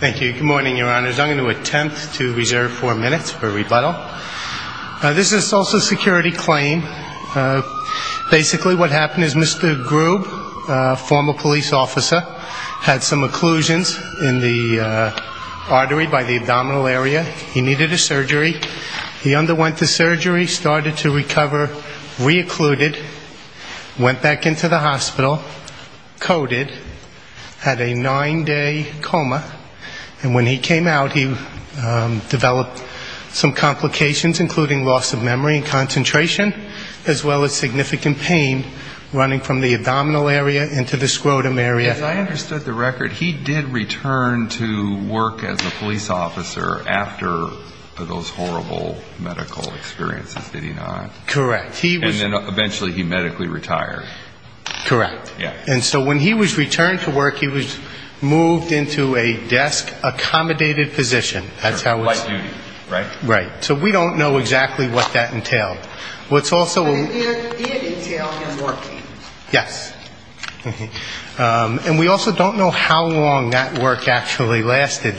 Thank you. Good morning, Your Honors. I'm going to attempt to reserve four minutes for rebuttal. This is a Social Security claim. Basically what happened is Mr. Grube, a former police officer, had some occlusions in the artery by the abdominal area. He needed a surgery. He underwent the surgery, started to recover, re-occluded, went back into the hospital, coded, had a nine-day coma. And when he came out, he developed some complications, including loss of memory and concentration, as well as significant pain running from the abdominal area into the scrotum area. As I understood the record, he did return to work as a police officer after those horrible medical experiences, did he not? Correct. And then eventually he medically retired. Correct. And so when he was returned to work, he was moved into a desk-accommodated position. That's how it's --. Light duty, right? Right. So we don't know exactly what that entailed. What's also --. It did entail him working. Yes. And we also don't know how long that work actually lasted.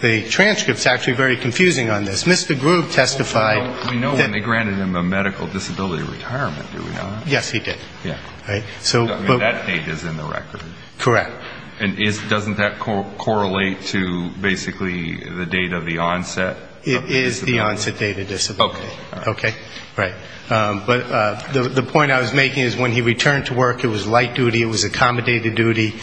The transcript's actually very confusing on this. Mr. Grube testified that --. We know when they granted him a medical disability retirement, do we not? Yes, he did. So that date is in the record. Correct. And doesn't that correlate to basically the date of the onset? It is the onset date of disability. Okay. Okay. Right. But the point I was making is when he returned to work, it was light duty, it was accommodated duty,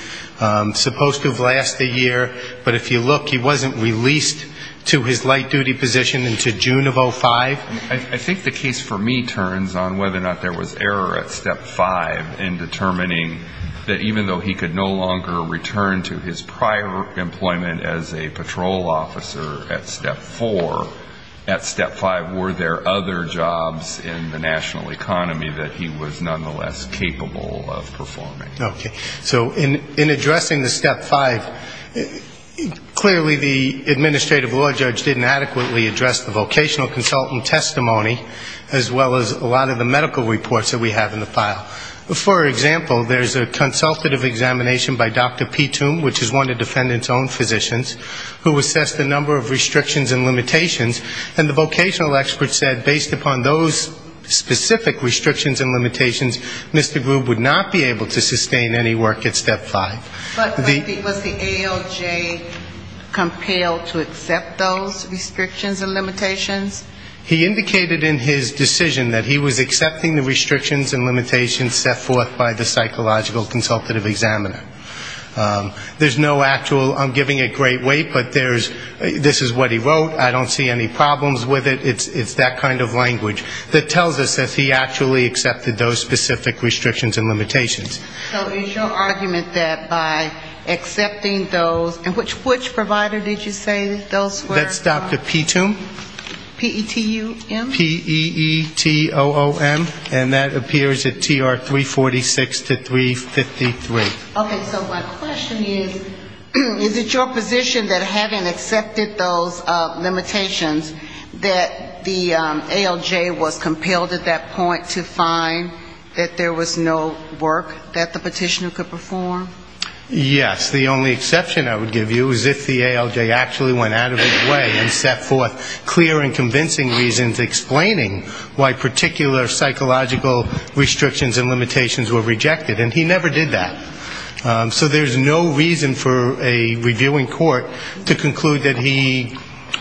supposed to have lasted a year, but if you look, he wasn't released to his light duty position until June of 05. I think the case for me turns on whether or in determining that even though he could no longer return to his prior employment as a patrol officer at step four, at step five were there other jobs in the national economy that he was nonetheless capable of performing. Okay. So in addressing the step five, clearly the administrative law judge didn't adequately address the vocational consultant testimony as well as a lot of the medical reports that we have in the file. For example, there's a consultative examination by Dr. Pitum, which is one of the defendant's own physicians, who assessed the number of restrictions and limitations, and the vocational expert said based upon those specific restrictions and limitations, Mr. Grube would not be able to sustain any work at step five. But was the ALJ compelled to accept those restrictions and limitations? He indicated in his decision that he was accepting the restrictions and limitations set forth by the psychological consultative examiner. There's no actual, I'm giving it great weight, but there's, this is what he wrote, I don't see any problems with it, it's that kind of language that tells us that he actually accepted those specific restrictions and limitations. So is your argument that by accepting those, and which provider did you say those were? That's Dr. Pitum. P-E-T-U-M? P-E-E-T-O-O-M, and that appears at TR 346 to 353. Okay, so my question is, is it your position that having accepted those limitations, that the ALJ was compelled at that point to find that there was no work that the petitioner could perform? Yes. The only exception I would give you is if the ALJ actually went out of its way and set forth clear and convincing reasons explaining why particular psychological restrictions and limitations were rejected. And he never did that. So there's no reason for a reviewing court to conclude that he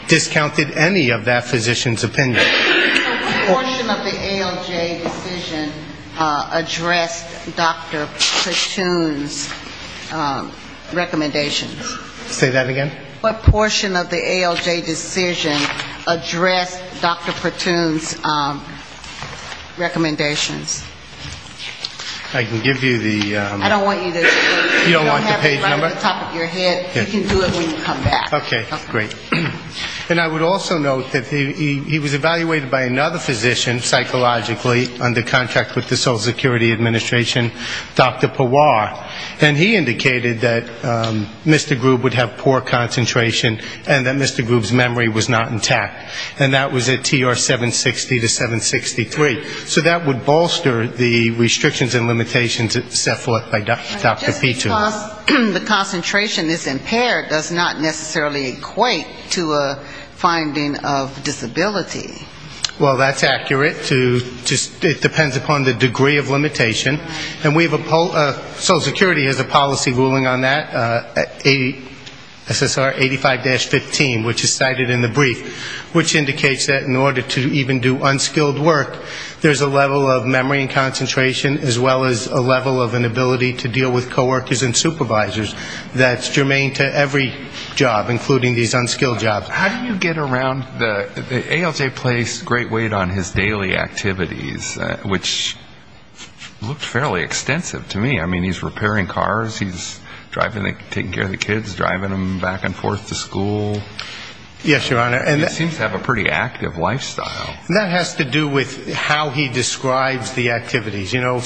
discounted any of that physician's opinion. What portion of the ALJ decision addressed Dr. Pitum's recommendations? Say that again? What portion of the ALJ decision addressed Dr. Pitum's recommendations? I can give you the ‑‑ I don't want you to do it. You don't want the page number? Right at the top of your head. You can do it when you come back. Okay. Great. And I would also note that he was evaluated by another physician psychologically under contract with the Social Security Administration, Dr. Pawar. And he indicated that Mr. Grube would have poor concentration and that Mr. Grube's memory was not intact. And that was at TR 760 to 763. So that would bolster the restrictions and limitations set forth by Dr. Pitum. The concentration is impaired does not necessarily equate to a finding of disability. Well, that's accurate. It depends upon the degree of limitation. And we have a ‑‑ Social Security has a policy ruling on that, SSR 85-15, which is cited in the brief, which indicates that in order to even do unskilled work, there's a level of memory and concentration as well as a level of ability to deal with coworkers and supervisors that's germane to every job, including these unskilled jobs. How do you get around the ‑‑ ALJ placed great weight on his daily activities, which looked fairly extensive to me. I mean, he's repairing cars, he's driving ‑‑ taking care of the kids, driving them back and forth to school. Yes, Your Honor. He seems to have a pretty active lifestyle. That has to do with how he describes the know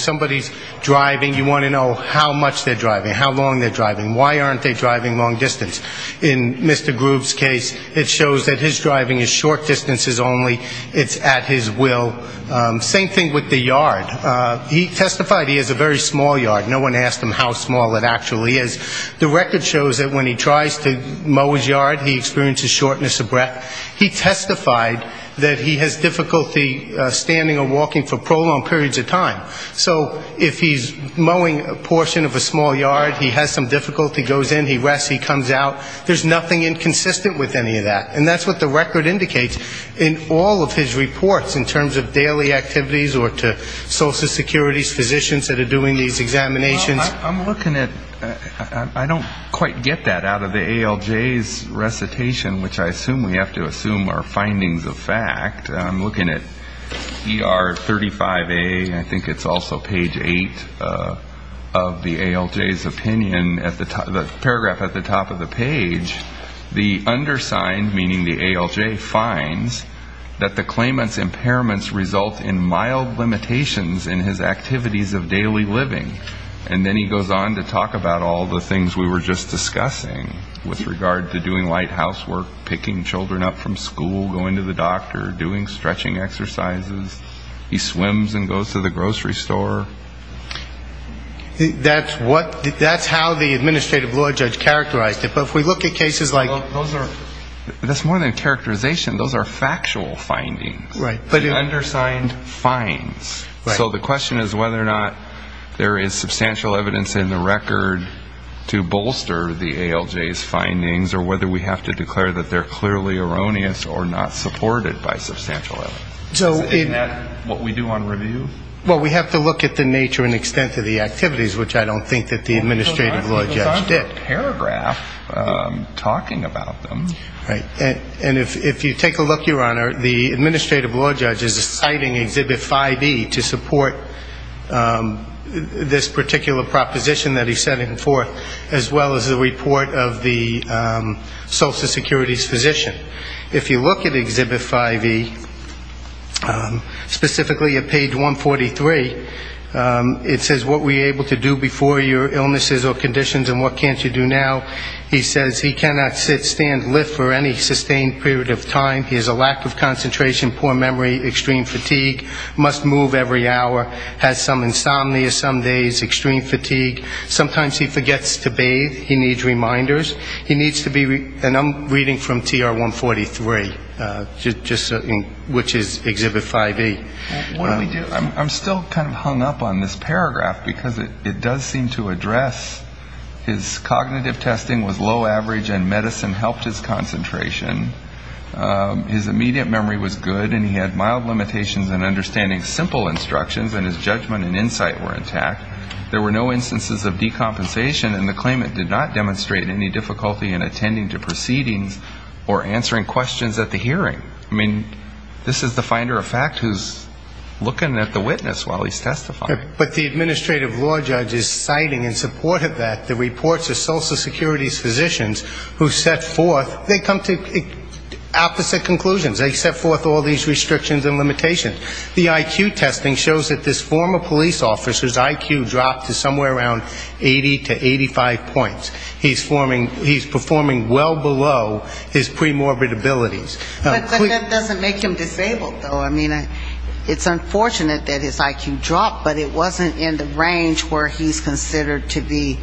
how much they're driving, how long they're driving, why aren't they driving long distance. In Mr. Groove's case, it shows that his driving is short distances only. It's at his will. Same thing with the yard. He testified he has a very small yard. No one asked him how small it actually is. The record shows that when he tries to mow his yard, he experiences shortness of breath. He testified that he has difficulty standing or walking for prolonged periods of time. So if he's mowing a portion of a small yard, he has some difficulty, he goes in, he rests, he comes out, there's nothing inconsistent with any of that. And that's what the record indicates in all of his reports in terms of daily activities or to social security physicians that are doing these examinations. I'm looking at ‑‑ I don't quite get that out of the ALJ's recitation, which I assume we have to assume are findings of fact. I'm looking at ER 35A, I think it's also page 8 of the ALJ's opinion, the paragraph at the top of the page, the undersigned, meaning the ALJ, finds that the claimant's impairments result in mild limitations in his activities of daily living. And then he goes on to talk about all the things we were just discussing with regard to doing light housework, picking children up from school, going to the doctor, doing stretching exercises. He swims and goes to the grocery store. That's what ‑‑ that's how the administrative law judge characterized it. But if we look at cases like ‑‑ Those are ‑‑ that's more than a characterization, those are factual findings. Right. The undersigned finds. So the question is whether or not there is substantial evidence in the record to bolster the ALJ's findings or whether we have to declare that they're clearly erroneous or not supported by substantial evidence. Isn't that what we do on review? Well, we have to look at the nature and extent of the activities, which I don't think that the administrative law judge did. I think it was under the paragraph talking about them. Right. And if you take a look, Your Honor, the administrative law judge is citing Exhibit 5E to support this particular proposition that he's setting forth, as well as the report of the Social Security's physician. If you look at Exhibit 5E, specifically at page 143, it says what were you able to do before your illnesses or conditions and what can't you do now. He says he cannot sit, stand, lift for any sustained period of time. He has a lack of concentration, poor memory, extreme fatigue, must move every hour, has some insomnia some days, extreme fatigue. Sometimes he forgets to bathe. He needs reminders. He needs to be, and I'm reading from TR 143, which is Exhibit 5E. What do we do? I'm still kind of hung up on this paragraph because it does seem to address his cognitive testing was low average and medicine helped his concentration. His immediate memory was good and he had mild limitations in understanding simple instructions and his judgment and insight were intact. There were no instances of decompensation and the claimant did not demonstrate any difficulty in attending to proceedings or answering questions at the hearing. I mean, this is the finder of fact who's looking at the witness while he's testifying. But the administrative law judge is citing in support of that the reports of Social Security's physicians who set forth, they come to opposite conclusions. They set forth all these restrictions and limitations. The IQ testing shows that this former police officer's IQ dropped to somewhere around 80 to 85 points. He's performing well below his pre-morbid abilities. But that doesn't make him disabled, though. I mean, it's unfortunate that his IQ dropped, but it wasn't in the range where he's considered to be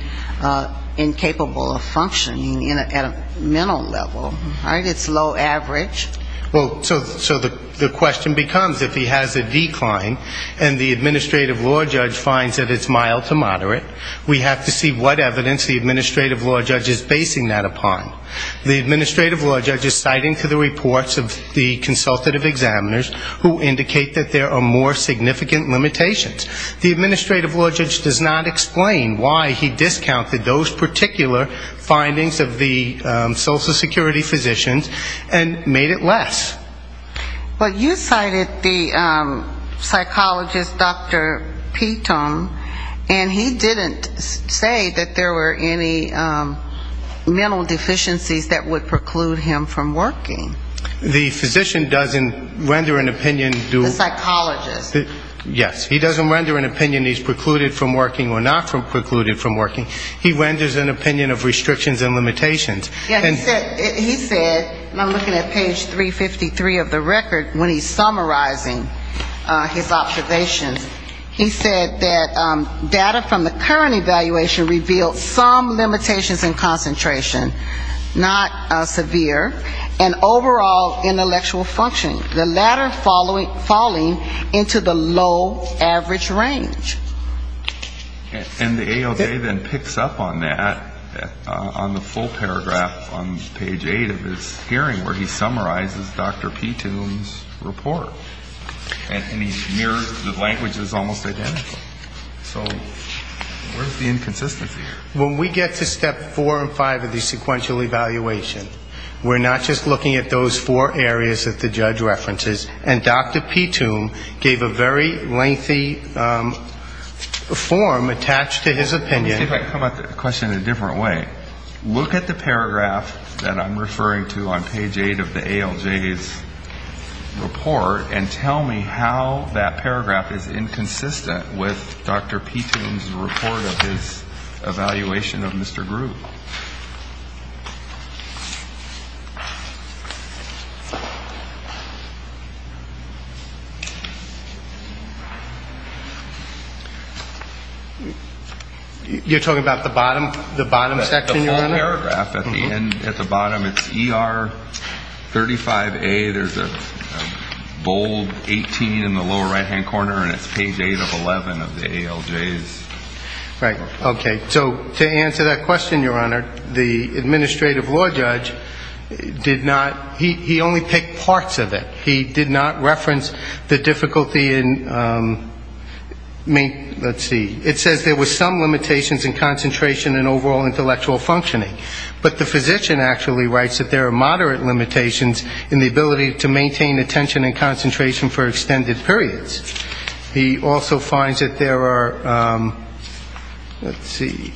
incapable of functioning at a mental level. Right? It's low average. Well, so the question becomes if he has a decline and the administrative law judge finds that it's mild to moderate, we have to see what evidence the administrative law judge is basing that upon. The administrative law judge is citing to the reports of the consultative examiners who indicate that there are more significant limitations. The administrative law judge does not explain why he Well, you cited the psychologist, Dr. Petum, and he didn't say that there were any mental deficiencies that would preclude him from working. The physician doesn't render an opinion do The psychologist. Yes. He doesn't render an opinion he's precluded from working or not precluded from working. He renders an opinion of restrictions and limitations. He said, and I'm looking at page 353 of the record, when he's summarizing his observations, he said that data from the current evaluation revealed some limitations in concentration, not severe, and overall intellectual functioning, the latter falling into the low average range. And the AOJ then picks up on that on the full paragraph on page 8 of his hearing where he summarizes Dr. Petum's report. And he mirrors the language that's almost identical. So where's the inconsistency here? When we get to step four and five of the sequential evaluation, we're not just looking at those areas that the judge references. And Dr. Petum gave a very lengthy form attached to his opinion. Let me see if I can come at the question in a different way. Look at the paragraph that I'm referring to on page 8 of the AOJ's report and tell me how that paragraph is inconsistent with Dr. Petum's report of his evaluation of Mr. Grew. You're talking about the bottom section, Your Honor? The full paragraph at the bottom. It's ER 35A. There's a bold 18 in the lower right-hand corner and it's page 8 of 11 of the AOJ's report. Right. Okay. So to answer that question, Your Honor, the administrative law judge did not pick parts of it. He did not reference the difficulty in, let's see, it says there were some limitations in concentration and overall intellectual functioning. But the physician actually writes that there are moderate limitations in the ability to maintain attention and concentration for extended periods. He also finds that there are, let's see,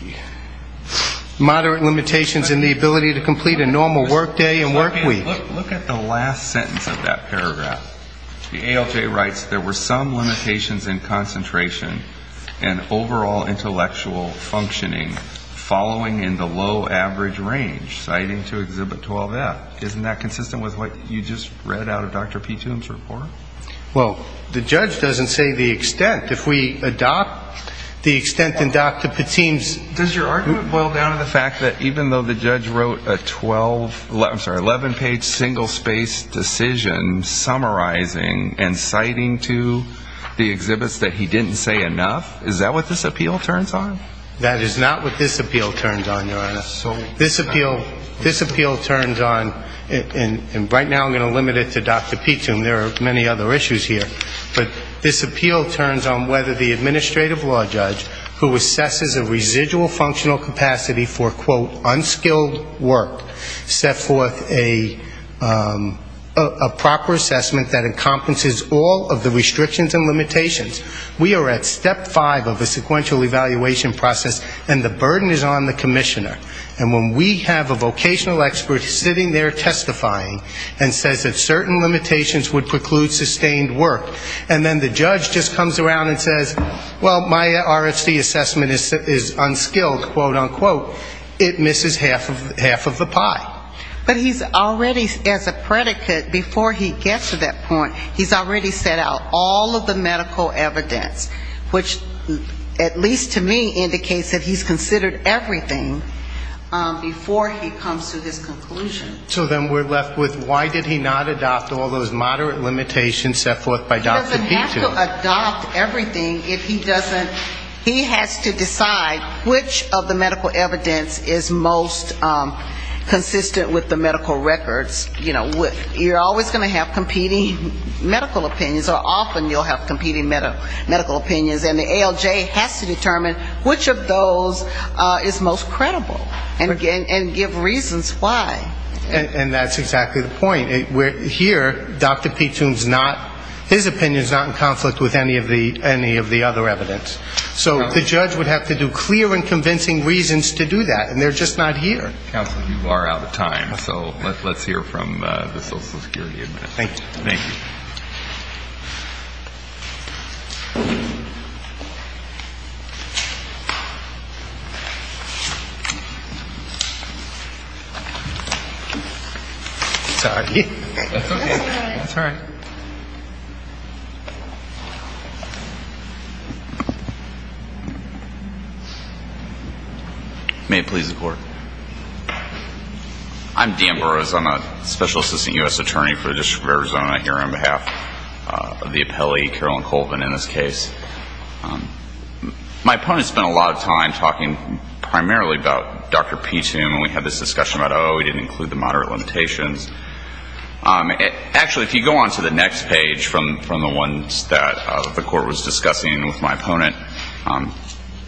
moderate limitations in the ability to complete a normal work day and work week. Look at the last sentence of that paragraph. The AOJ writes there were some limitations in concentration and overall intellectual functioning following in the low average range citing to Exhibit 12F. Isn't that consistent with what you just read out of Dr. Petum's report? Well, the judge doesn't say the extent. If we adopt the extent in Dr. Petum's Does your argument boil down to the fact that even though the judge wrote a 12, I'm sorry, 11-page single-spaced decision summarizing and citing to the exhibits that he didn't say enough? Is that what this appeal turns on? That is not what this appeal turns on, Your Honor. This appeal turns on, and right now I'm going to limit it to Dr. Petum. There are many other issues here. But this appeal turns on whether the individual functional capacity for, quote, unskilled work set forth a proper assessment that encompasses all of the restrictions and limitations. We are at step five of a sequential evaluation process, and the burden is on the commissioner. And when we have a vocational expert sitting there testifying and says that certain limitations would preclude sustained work, and then the judge just says unskilled, quote, unquote, it misses half of the pie. But he's already, as a predicate, before he gets to that point, he's already set out all of the medical evidence, which at least to me indicates that he's considered everything before he comes to his conclusion. So then we're left with why did he not adopt all those moderate limitations set forth by Dr. Petum? He has to adopt everything if he doesn't he has to decide which of the medical evidence is most consistent with the medical records. You know, you're always going to have competing medical opinions, or often you'll have competing medical opinions, and the ALJ has to determine which of those is most credible. And give reasons why. And that's exactly the point. Here, Dr. Petum's not, his opinion is not in conflict with any of the other evidence. So the judge would have to do clear and convincing reasons to do that, and they're just not here. So let's hear from the social security admin. Thank you. Sorry. That's all right. Thank you. May it please the Court. I'm Dan Burrows. I'm a special assistant U.S. attorney for the District of Arizona here on behalf of the appellee, Carolyn Colvin, in this case. My opponent spent a lot of time talking primarily about Dr. Petum, and we had this discussion about, oh, we didn't include the moderate limitations. Actually, if you go on to the next page from the ones that the Court was discussing with my opponent,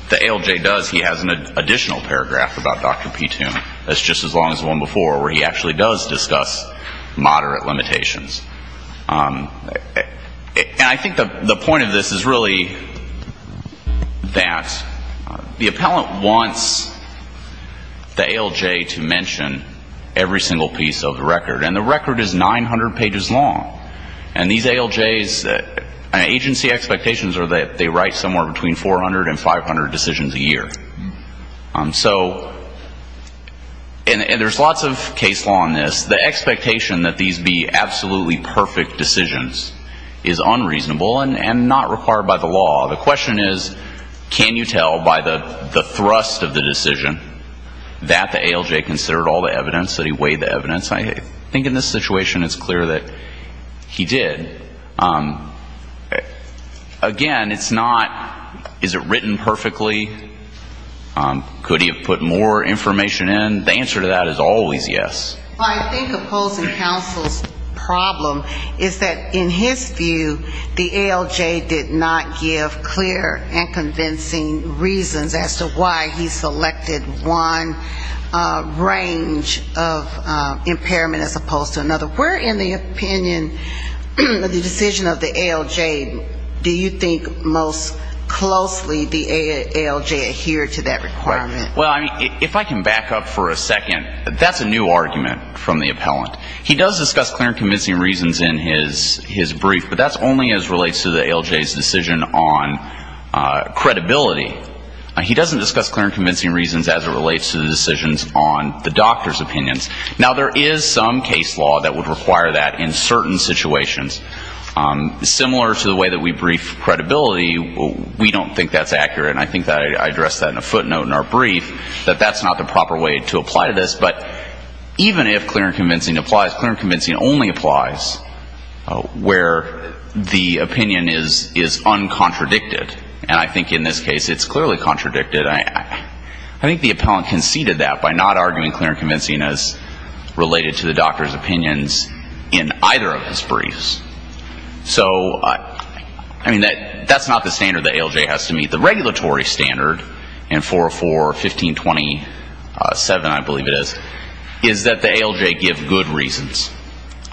the ALJ does, he has an additional paragraph about Dr. Petum that's just as long as the one before where he actually does discuss moderate limitations. And I think the point of this is really that the appellant wants the ALJ to be able to mention every single piece of the record. And the record is 900 pages long. And these ALJs, agency expectations are that they write somewhere between 400 and 500 decisions a year. And there's lots of case law in this. The expectation that these be absolutely perfect decisions is unreasonable and not required by the law. The question is, can you tell by the thrust of the decision that the ALJ is going to be able to consider all the evidence, that he weighed the evidence? I think in this situation it's clear that he did. Again, it's not, is it written perfectly? Could he have put more information in? The answer to that is always yes. I think opposing counsel's problem is that in his view, the ALJ did not give clear and convincing reasons as to why he had a range of impairment as opposed to another. Where in the opinion of the decision of the ALJ do you think most closely the ALJ adhered to that requirement? Well, if I can back up for a second, that's a new argument from the appellant. He does discuss clear and convincing reasons in his brief, but that's only as relates to the ALJ's decision on credibility. He doesn't discuss clear and convincing reasons as it does on the doctor's opinions. Now, there is some case law that would require that in certain situations. Similar to the way that we brief credibility, we don't think that's accurate. And I think I addressed that in a footnote in our brief, that that's not the proper way to apply to this. But even if clear and convincing applies, clear and convincing only applies where the opinion is uncontradicted. And I think in this case it's clearly contradicted. I think the appellant conceded that by not arguing clear and convincing as related to the doctor's opinions in either of his briefs. So, I mean, that's not the standard the ALJ has to meet. The regulatory standard in 404.15.27, I believe it is, is that the ALJ give good reasons.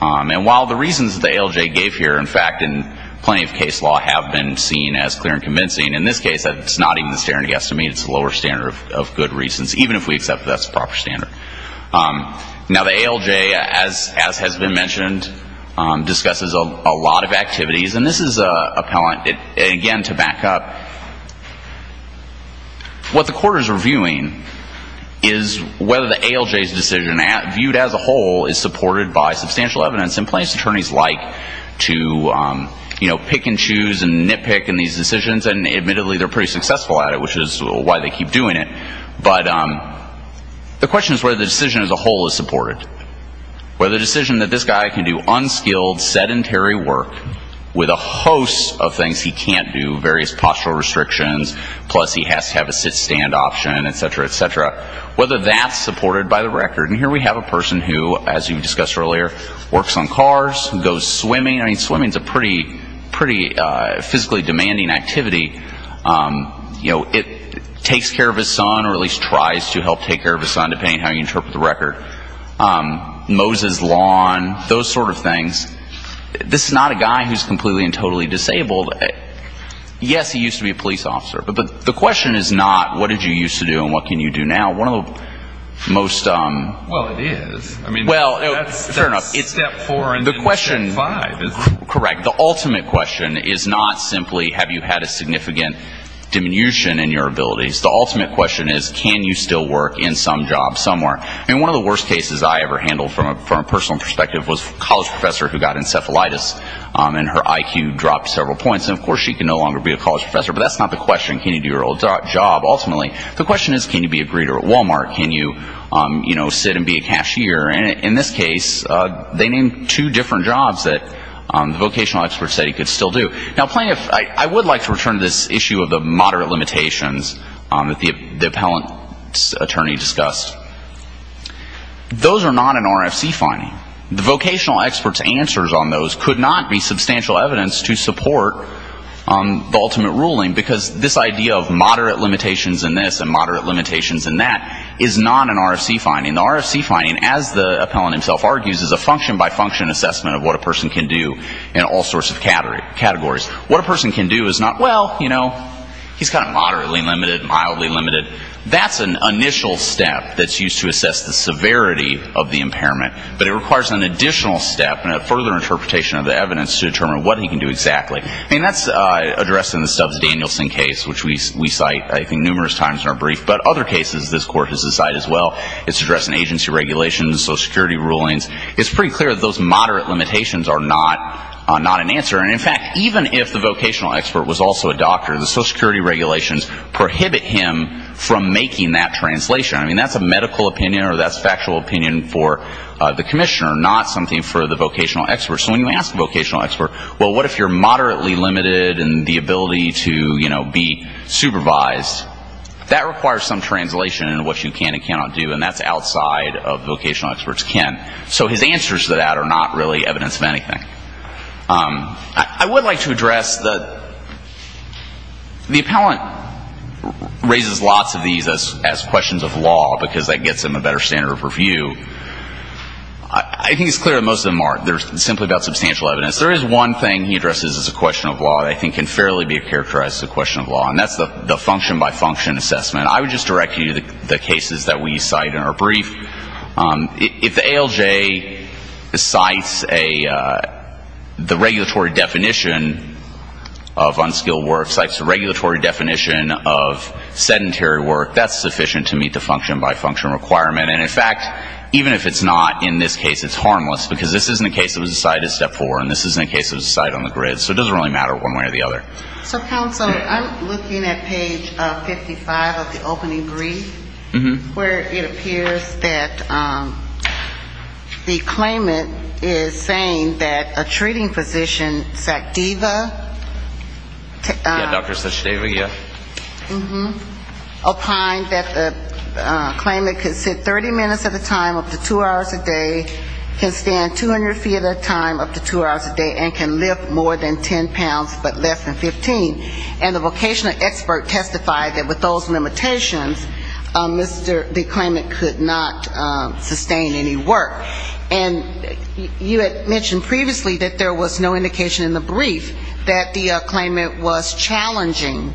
And while the reasons that the ALJ gave here, in fact, in plenty of case law have been seen as clear and convincing, in this case it's not even the standard he has to meet. Now, the ALJ, as has been mentioned, discusses a lot of activities. And this is, again, to back up, what the court is reviewing is whether the ALJ's decision, viewed as a whole, is supported by substantial evidence in place. Attorneys like to, you know, pick and choose and nitpick in these decisions. And admittedly, they're pretty successful at it, which is why they keep doing it. But the question is whether the decision as a whole is supported. Whether the decision that this guy can do unskilled, sedentary work with a host of things he can't do, various postural restrictions, plus he has to have a sit-stand option, et cetera, et cetera, whether that's supported by the record. And here we have a person who, as you discussed earlier, works on cars, goes swimming. I mean, swimming is a pretty physically demanding activity. You know, it takes care of a lot of things. It's a lot of things. It takes care of his son, or at least tries to help take care of his son, depending on how you interpret the record. Moses lawn, those sort of things. This is not a guy who's completely and totally disabled. Yes, he used to be a police officer. But the question is not what did you used to do and what can you do now. One of the most ‑‑ Well, it is. I mean, that's step four and step five. Correct. The ultimate question is not simply have you had a significant diminution in your abilities. The ultimate question is can you still work in some job somewhere. I mean, one of the worst cases I ever handled from a personal perspective was a college professor who got encephalitis and her IQ dropped several points. And of course, she can no longer be a college professor. But that's not the question. Can you do your old job, ultimately. The question is can you be a greeter at Walmart. Can you sit and be a greeter. And in this case, they named two different jobs that the vocational experts said he could still do. Now, I would like to return to this issue of the moderate limitations that the appellant's attorney discussed. Those are not an RFC finding. The vocational expert's answers on those could not be substantial evidence to support the ultimate ruling, because this idea of moderate limitations in this and moderate limitations in that is not an RFC finding. The RFC finding, as the appellant himself argues, is a function-by-function assessment of what a person can do in all sorts of categories. What a person can do is not, well, you know, he's kind of moderately limited, mildly limited. That's an initial step that's used to assess the severity of the impairment. But it requires an additional step and a further interpretation of the evidence to determine what he can do exactly. I mean, that's addressed in the Stubbs-Danielson case, which we cite I think numerous times in our brief. But other cases this Court has cited as well, it's addressed in agency regulations, Social Security rulings. It's pretty clear that those moderate limitations are not an answer. And in fact, even if the vocational expert was also a doctor, the Social Security regulations prohibit him from making that translation. I mean, that's a medical opinion or that's factual opinion for the commissioner, not something for the vocational expert. So when you ask the vocational expert, well, what if you're moderately limited in the ability to, you know, be supervised, that requires some translation into what you can and cannot do. And that's outside of what vocational experts can. So his answers to that are not really evidence of anything. I would like to address the appellant raises lots of these as questions of law because that gets him a better standard of review. I think it's clear that most of them aren't. They're simply about substantial evidence. There is one thing he addresses as a question of law that I think can fairly be characterized as a question of law, and that's the function-by-function assessment. I would just direct you to the cases that we cite in our brief. If the ALJ cites a the regulatory definition of unskilled work, cites a regulatory definition of sedentary work, that's sufficient to meet the function-by-function requirement. And in fact, even if it's not in this case, it's harmless because this isn't a case that was cited in step four and this isn't a case that was cited on the grid. So it doesn't really matter one way or the other. So, counsel, I'm looking at page 55 of the opening brief, where it appears that the claimant is saying that a treating physician, SACDEVA. Yeah, Dr. SACDEVA, yeah. Applying that the claimant could sit 30 minutes at a time, up to two hours a day, can stand 200 feet at a time, up to two hours a day, and can lift more than 10 pounds but less than 15. And the vocational expert testified that with those limitations, Mr. the claimant could not sustain any work. And you had mentioned previously that there was no indication in the brief that the claimant was challenging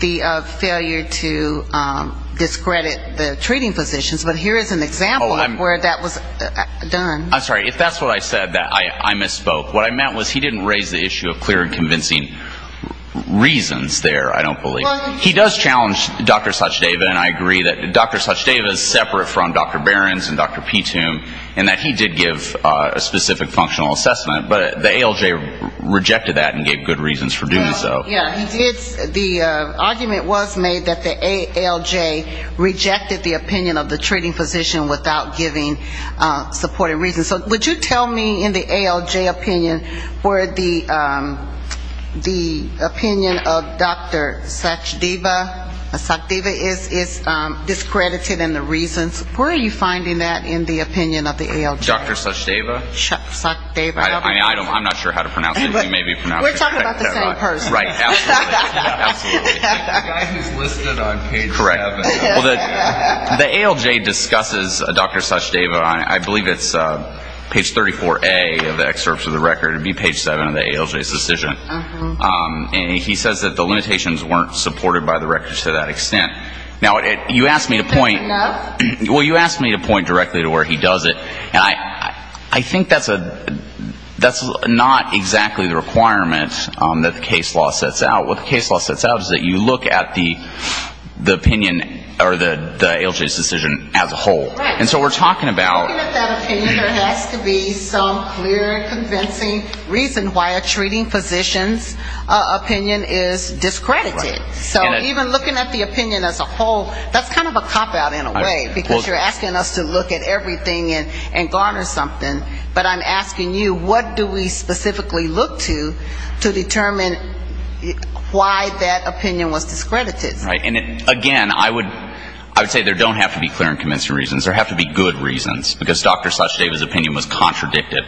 the failure to discredit the treating physicians. But here is an example of where that was done. I'm sorry. If that's what I said, I misspoke. What I meant was he didn't raise the issue of clear and convincing reasons there, I don't believe. He does challenge Dr. SACDEVA, and I agree that Dr. SACDEVA is separate from Dr. Behrens and Dr. Petum, and that he did give a specific functional assessment, but the ALJ rejected that and gave good reasons for doing so. The argument was made that the ALJ rejected the opinion of the treating physician without giving supportive reasons. So would you tell me in the ALJ opinion where the opinion of Dr. SACDEVA is discredited and the reasons? Where are you finding that in the opinion of the ALJ? Dr. SACDEVA? I'm not sure how to pronounce it. The ALJ discusses Dr. SACDEVA, I believe it's page 34A of the excerpts of the record. It would be page 7 of the ALJ's decision. And he says that the limitations weren't supported by the records to that extent. Now, you asked me to point directly to where he does it. And I think that's not exactly the requirement that the case law sets out. What the case law sets out is that you look at the opinion or the ALJ's decision as a whole. And so we're talking about... Looking at the opinion, it has to be some clear, convincing reason why a treating physician's opinion is discredited. So even looking at the opinion as a whole, that's kind of a cop-out in a way. Because you're asking us to look at everything and garner something. But I'm asking you, what do we specifically look to to determine why that opinion was discredited? Right. And again, I would say there don't have to be clear and convincing reasons. There have to be good reasons. Because there's an uncontradicted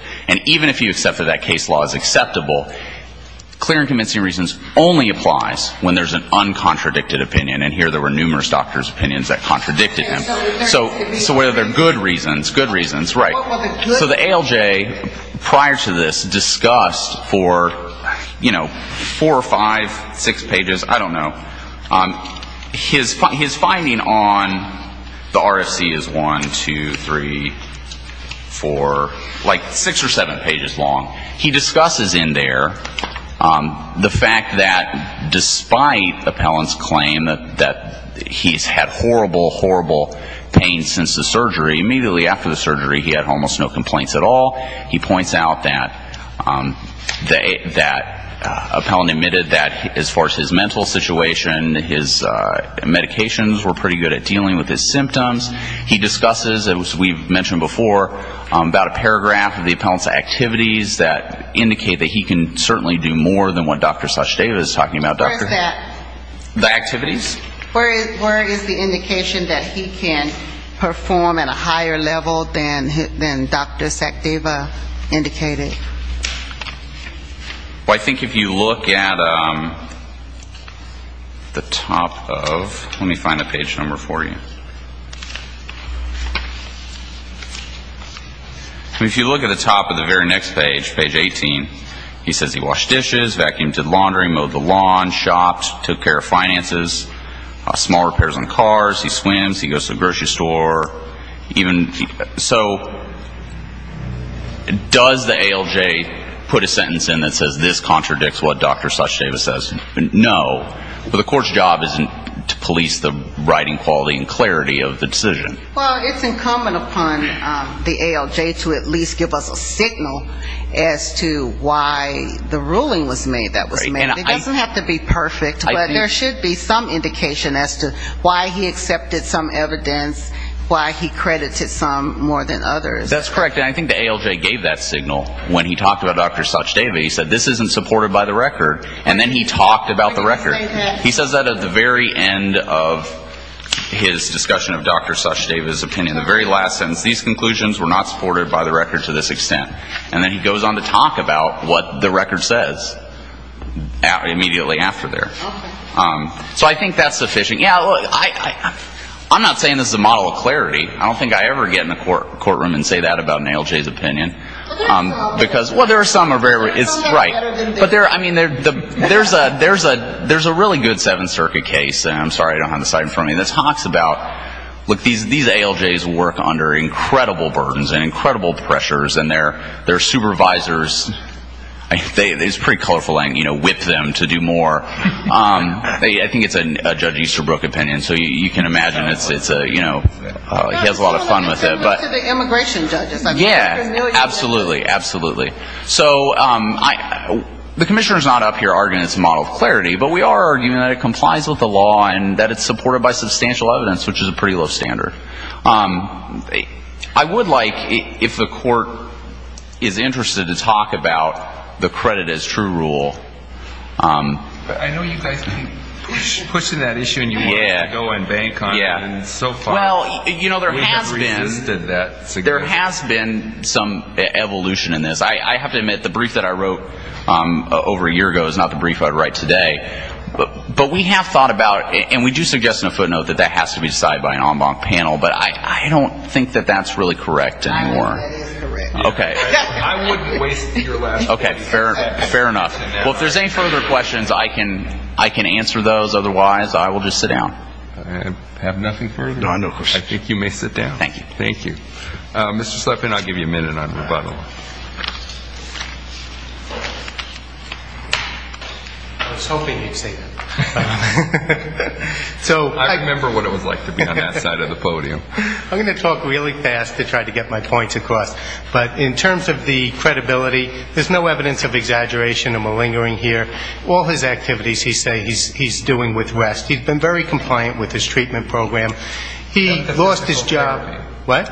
opinion. And here there were numerous doctors' opinions that contradicted him. So whether they're good reasons, good reasons, right. So the ALJ, prior to this, discussed for, you know, four or five, six pages, I don't know, his finding on the RFC is one, two, three, four, like six or seven pages long. He discusses in there the fact that despite the fact that the appellant's claim that he's had horrible, horrible pain since the surgery, immediately after the surgery he had almost no complaints at all. He points out that the appellant admitted that as far as his mental situation, his medications were pretty good at dealing with his symptoms. He discusses, as we've mentioned before, about a paragraph of the appellant's activities that indicate that he can certainly do more than what Dr. Sashteva is talking about. The activities? Where is the indication that he can perform at a higher level than Dr. Sashteva indicated? Well, I think if you look at the top of, let me find a page number for you. If you look at the top of the very next page, page 18, he says he washed dishes, vacuumed, did laundry, mowed the lawn, shopped, took care of finances, small repairs on cars, he swims, he goes to the grocery store. So does the ALJ put a sentence in that says this contradicts what Dr. Sashteva says? No. But the court's job isn't to police the writing quality and clarity of the decision. Well, it's incumbent upon the ALJ to at least give us a signal as to why the ruling was made that was made. It doesn't have to be perfect, but there should be some indication as to why he accepted some evidence, why he credited some more than others. That's correct. And I think the ALJ gave that signal when he talked about Dr. Sashteva. He said this isn't supported by the record to this extent. And then he goes on to talk about what the record says immediately after there. So I think that's sufficient. I'm not saying this is a model of clarity. I don't think I ever get in a courtroom and say that about an ALJ's opinion. There's a really good Seventh Circuit case, and I'm sorry, I don't have the slide in front of me, that talks about, look, these ALJs work under incredible burdens and incredible pressures, and their supervisors, it's pretty colorful, you know, whip them to do more. I think it's a Judge Easterbrook opinion, so you can imagine it's a, you know, he has a lot of fun with it. Yeah, absolutely, absolutely. So the Commissioner's not up here arguing it's a model of clarity, but we are arguing that it is a model of clarity. I would like, if the court is interested to talk about the credit as true rule. I know you guys have been pushing that issue and you want to go and bank on it, and so far we have resisted that suggestion. There has been some evolution in this. I have to admit, the brief that I wrote over a year ago is not the brief I would write today. But we have thought about it, and we do suggest in a footnote that that has to be decided by an en banc panel, but I don't think that that's really correct anymore. Okay. Fair enough. Well, if there's any further questions, I can answer those. Otherwise, I will just sit down. I have nothing further. I think you may sit down. Thank you. Thank you. Mr. Slepin, I'll give you a minute on rebuttal. I was hoping you'd say that. I remember what it was like to be on that side of the room. I'm going to talk really fast to try to get my points across. But in terms of the credibility, there's no evidence of exaggeration or malingering here. All his activities, he says, he's doing with rest. He's been very compliant with his treatment program. He lost his job.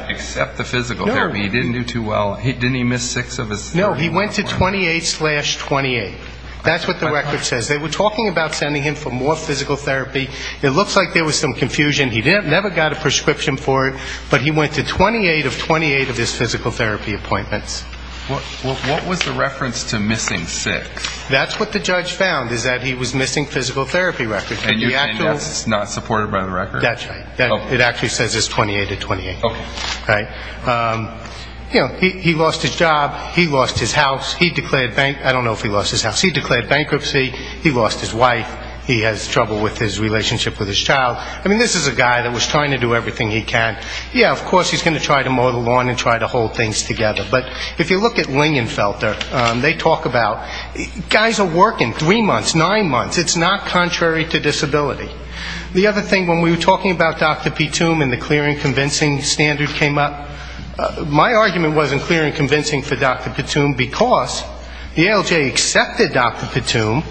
Except the physical therapy. He didn't do too well. Didn't he miss six of his? No, he went to 28-28. That's what the record says. They were talking about sending him for more physical therapy. It looks like there was some room for it. But he went to 28-28 of his physical therapy appointments. What was the reference to missing six? That's what the judge found, is that he was missing physical therapy records. And that's not supported by the record? That's right. It actually says it's 28-28. Okay. Right. You know, he lost his job. He lost his house. He declared bankruptcy. He lost his wife. He has trouble with his relationship with his child. I was trying to do everything he can. Yeah, of course he's going to try to mow the lawn and try to hold things together. But if you look at Lingenfelter, they talk about guys are working three months, nine months. It's not contrary to disability. The other thing, when we were talking about Dr. Pitoum and the clear and convincing standard came up, my argument wasn't clear and convincing for Dr. Pitoum, because the ALJ accepted Dr. Pitoum.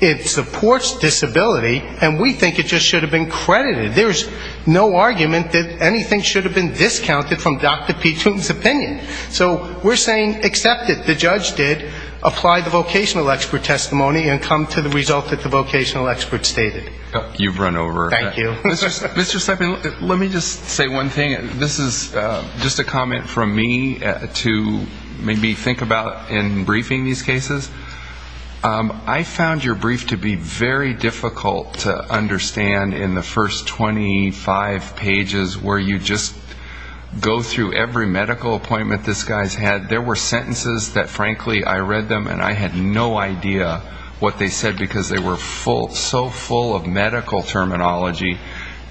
It supports disability, and we think it just should have been credited. There's no argument that anything should have been discounted from Dr. Pitoum's opinion. So we're saying accept it. The judge did apply the vocational expert testimony and come to the result that the vocational expert stated. You've run over. Thank you. Mr. Sepin, let me just say one thing. This is just a comment from me to maybe think about in briefing these cases. I found your brief to be very difficult to understand. In the first 25 pages where you just go through every medical appointment this guy's had, there were sentences that frankly I read them and I had no idea what they said, because they were so full of medical terminology.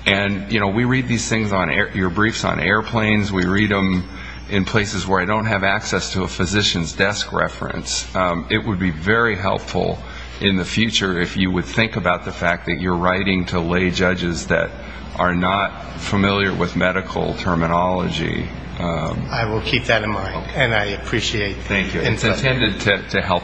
And we read these things, your briefs, on airplanes. We read them in places where I don't have access to a physician's desk reference. It would be very helpful in the future if you would think about the fact that you're writing a brief relating to lay judges that are not familiar with medical terminology. I will keep that in mind, and I appreciate it. Thank you. It's intended to help.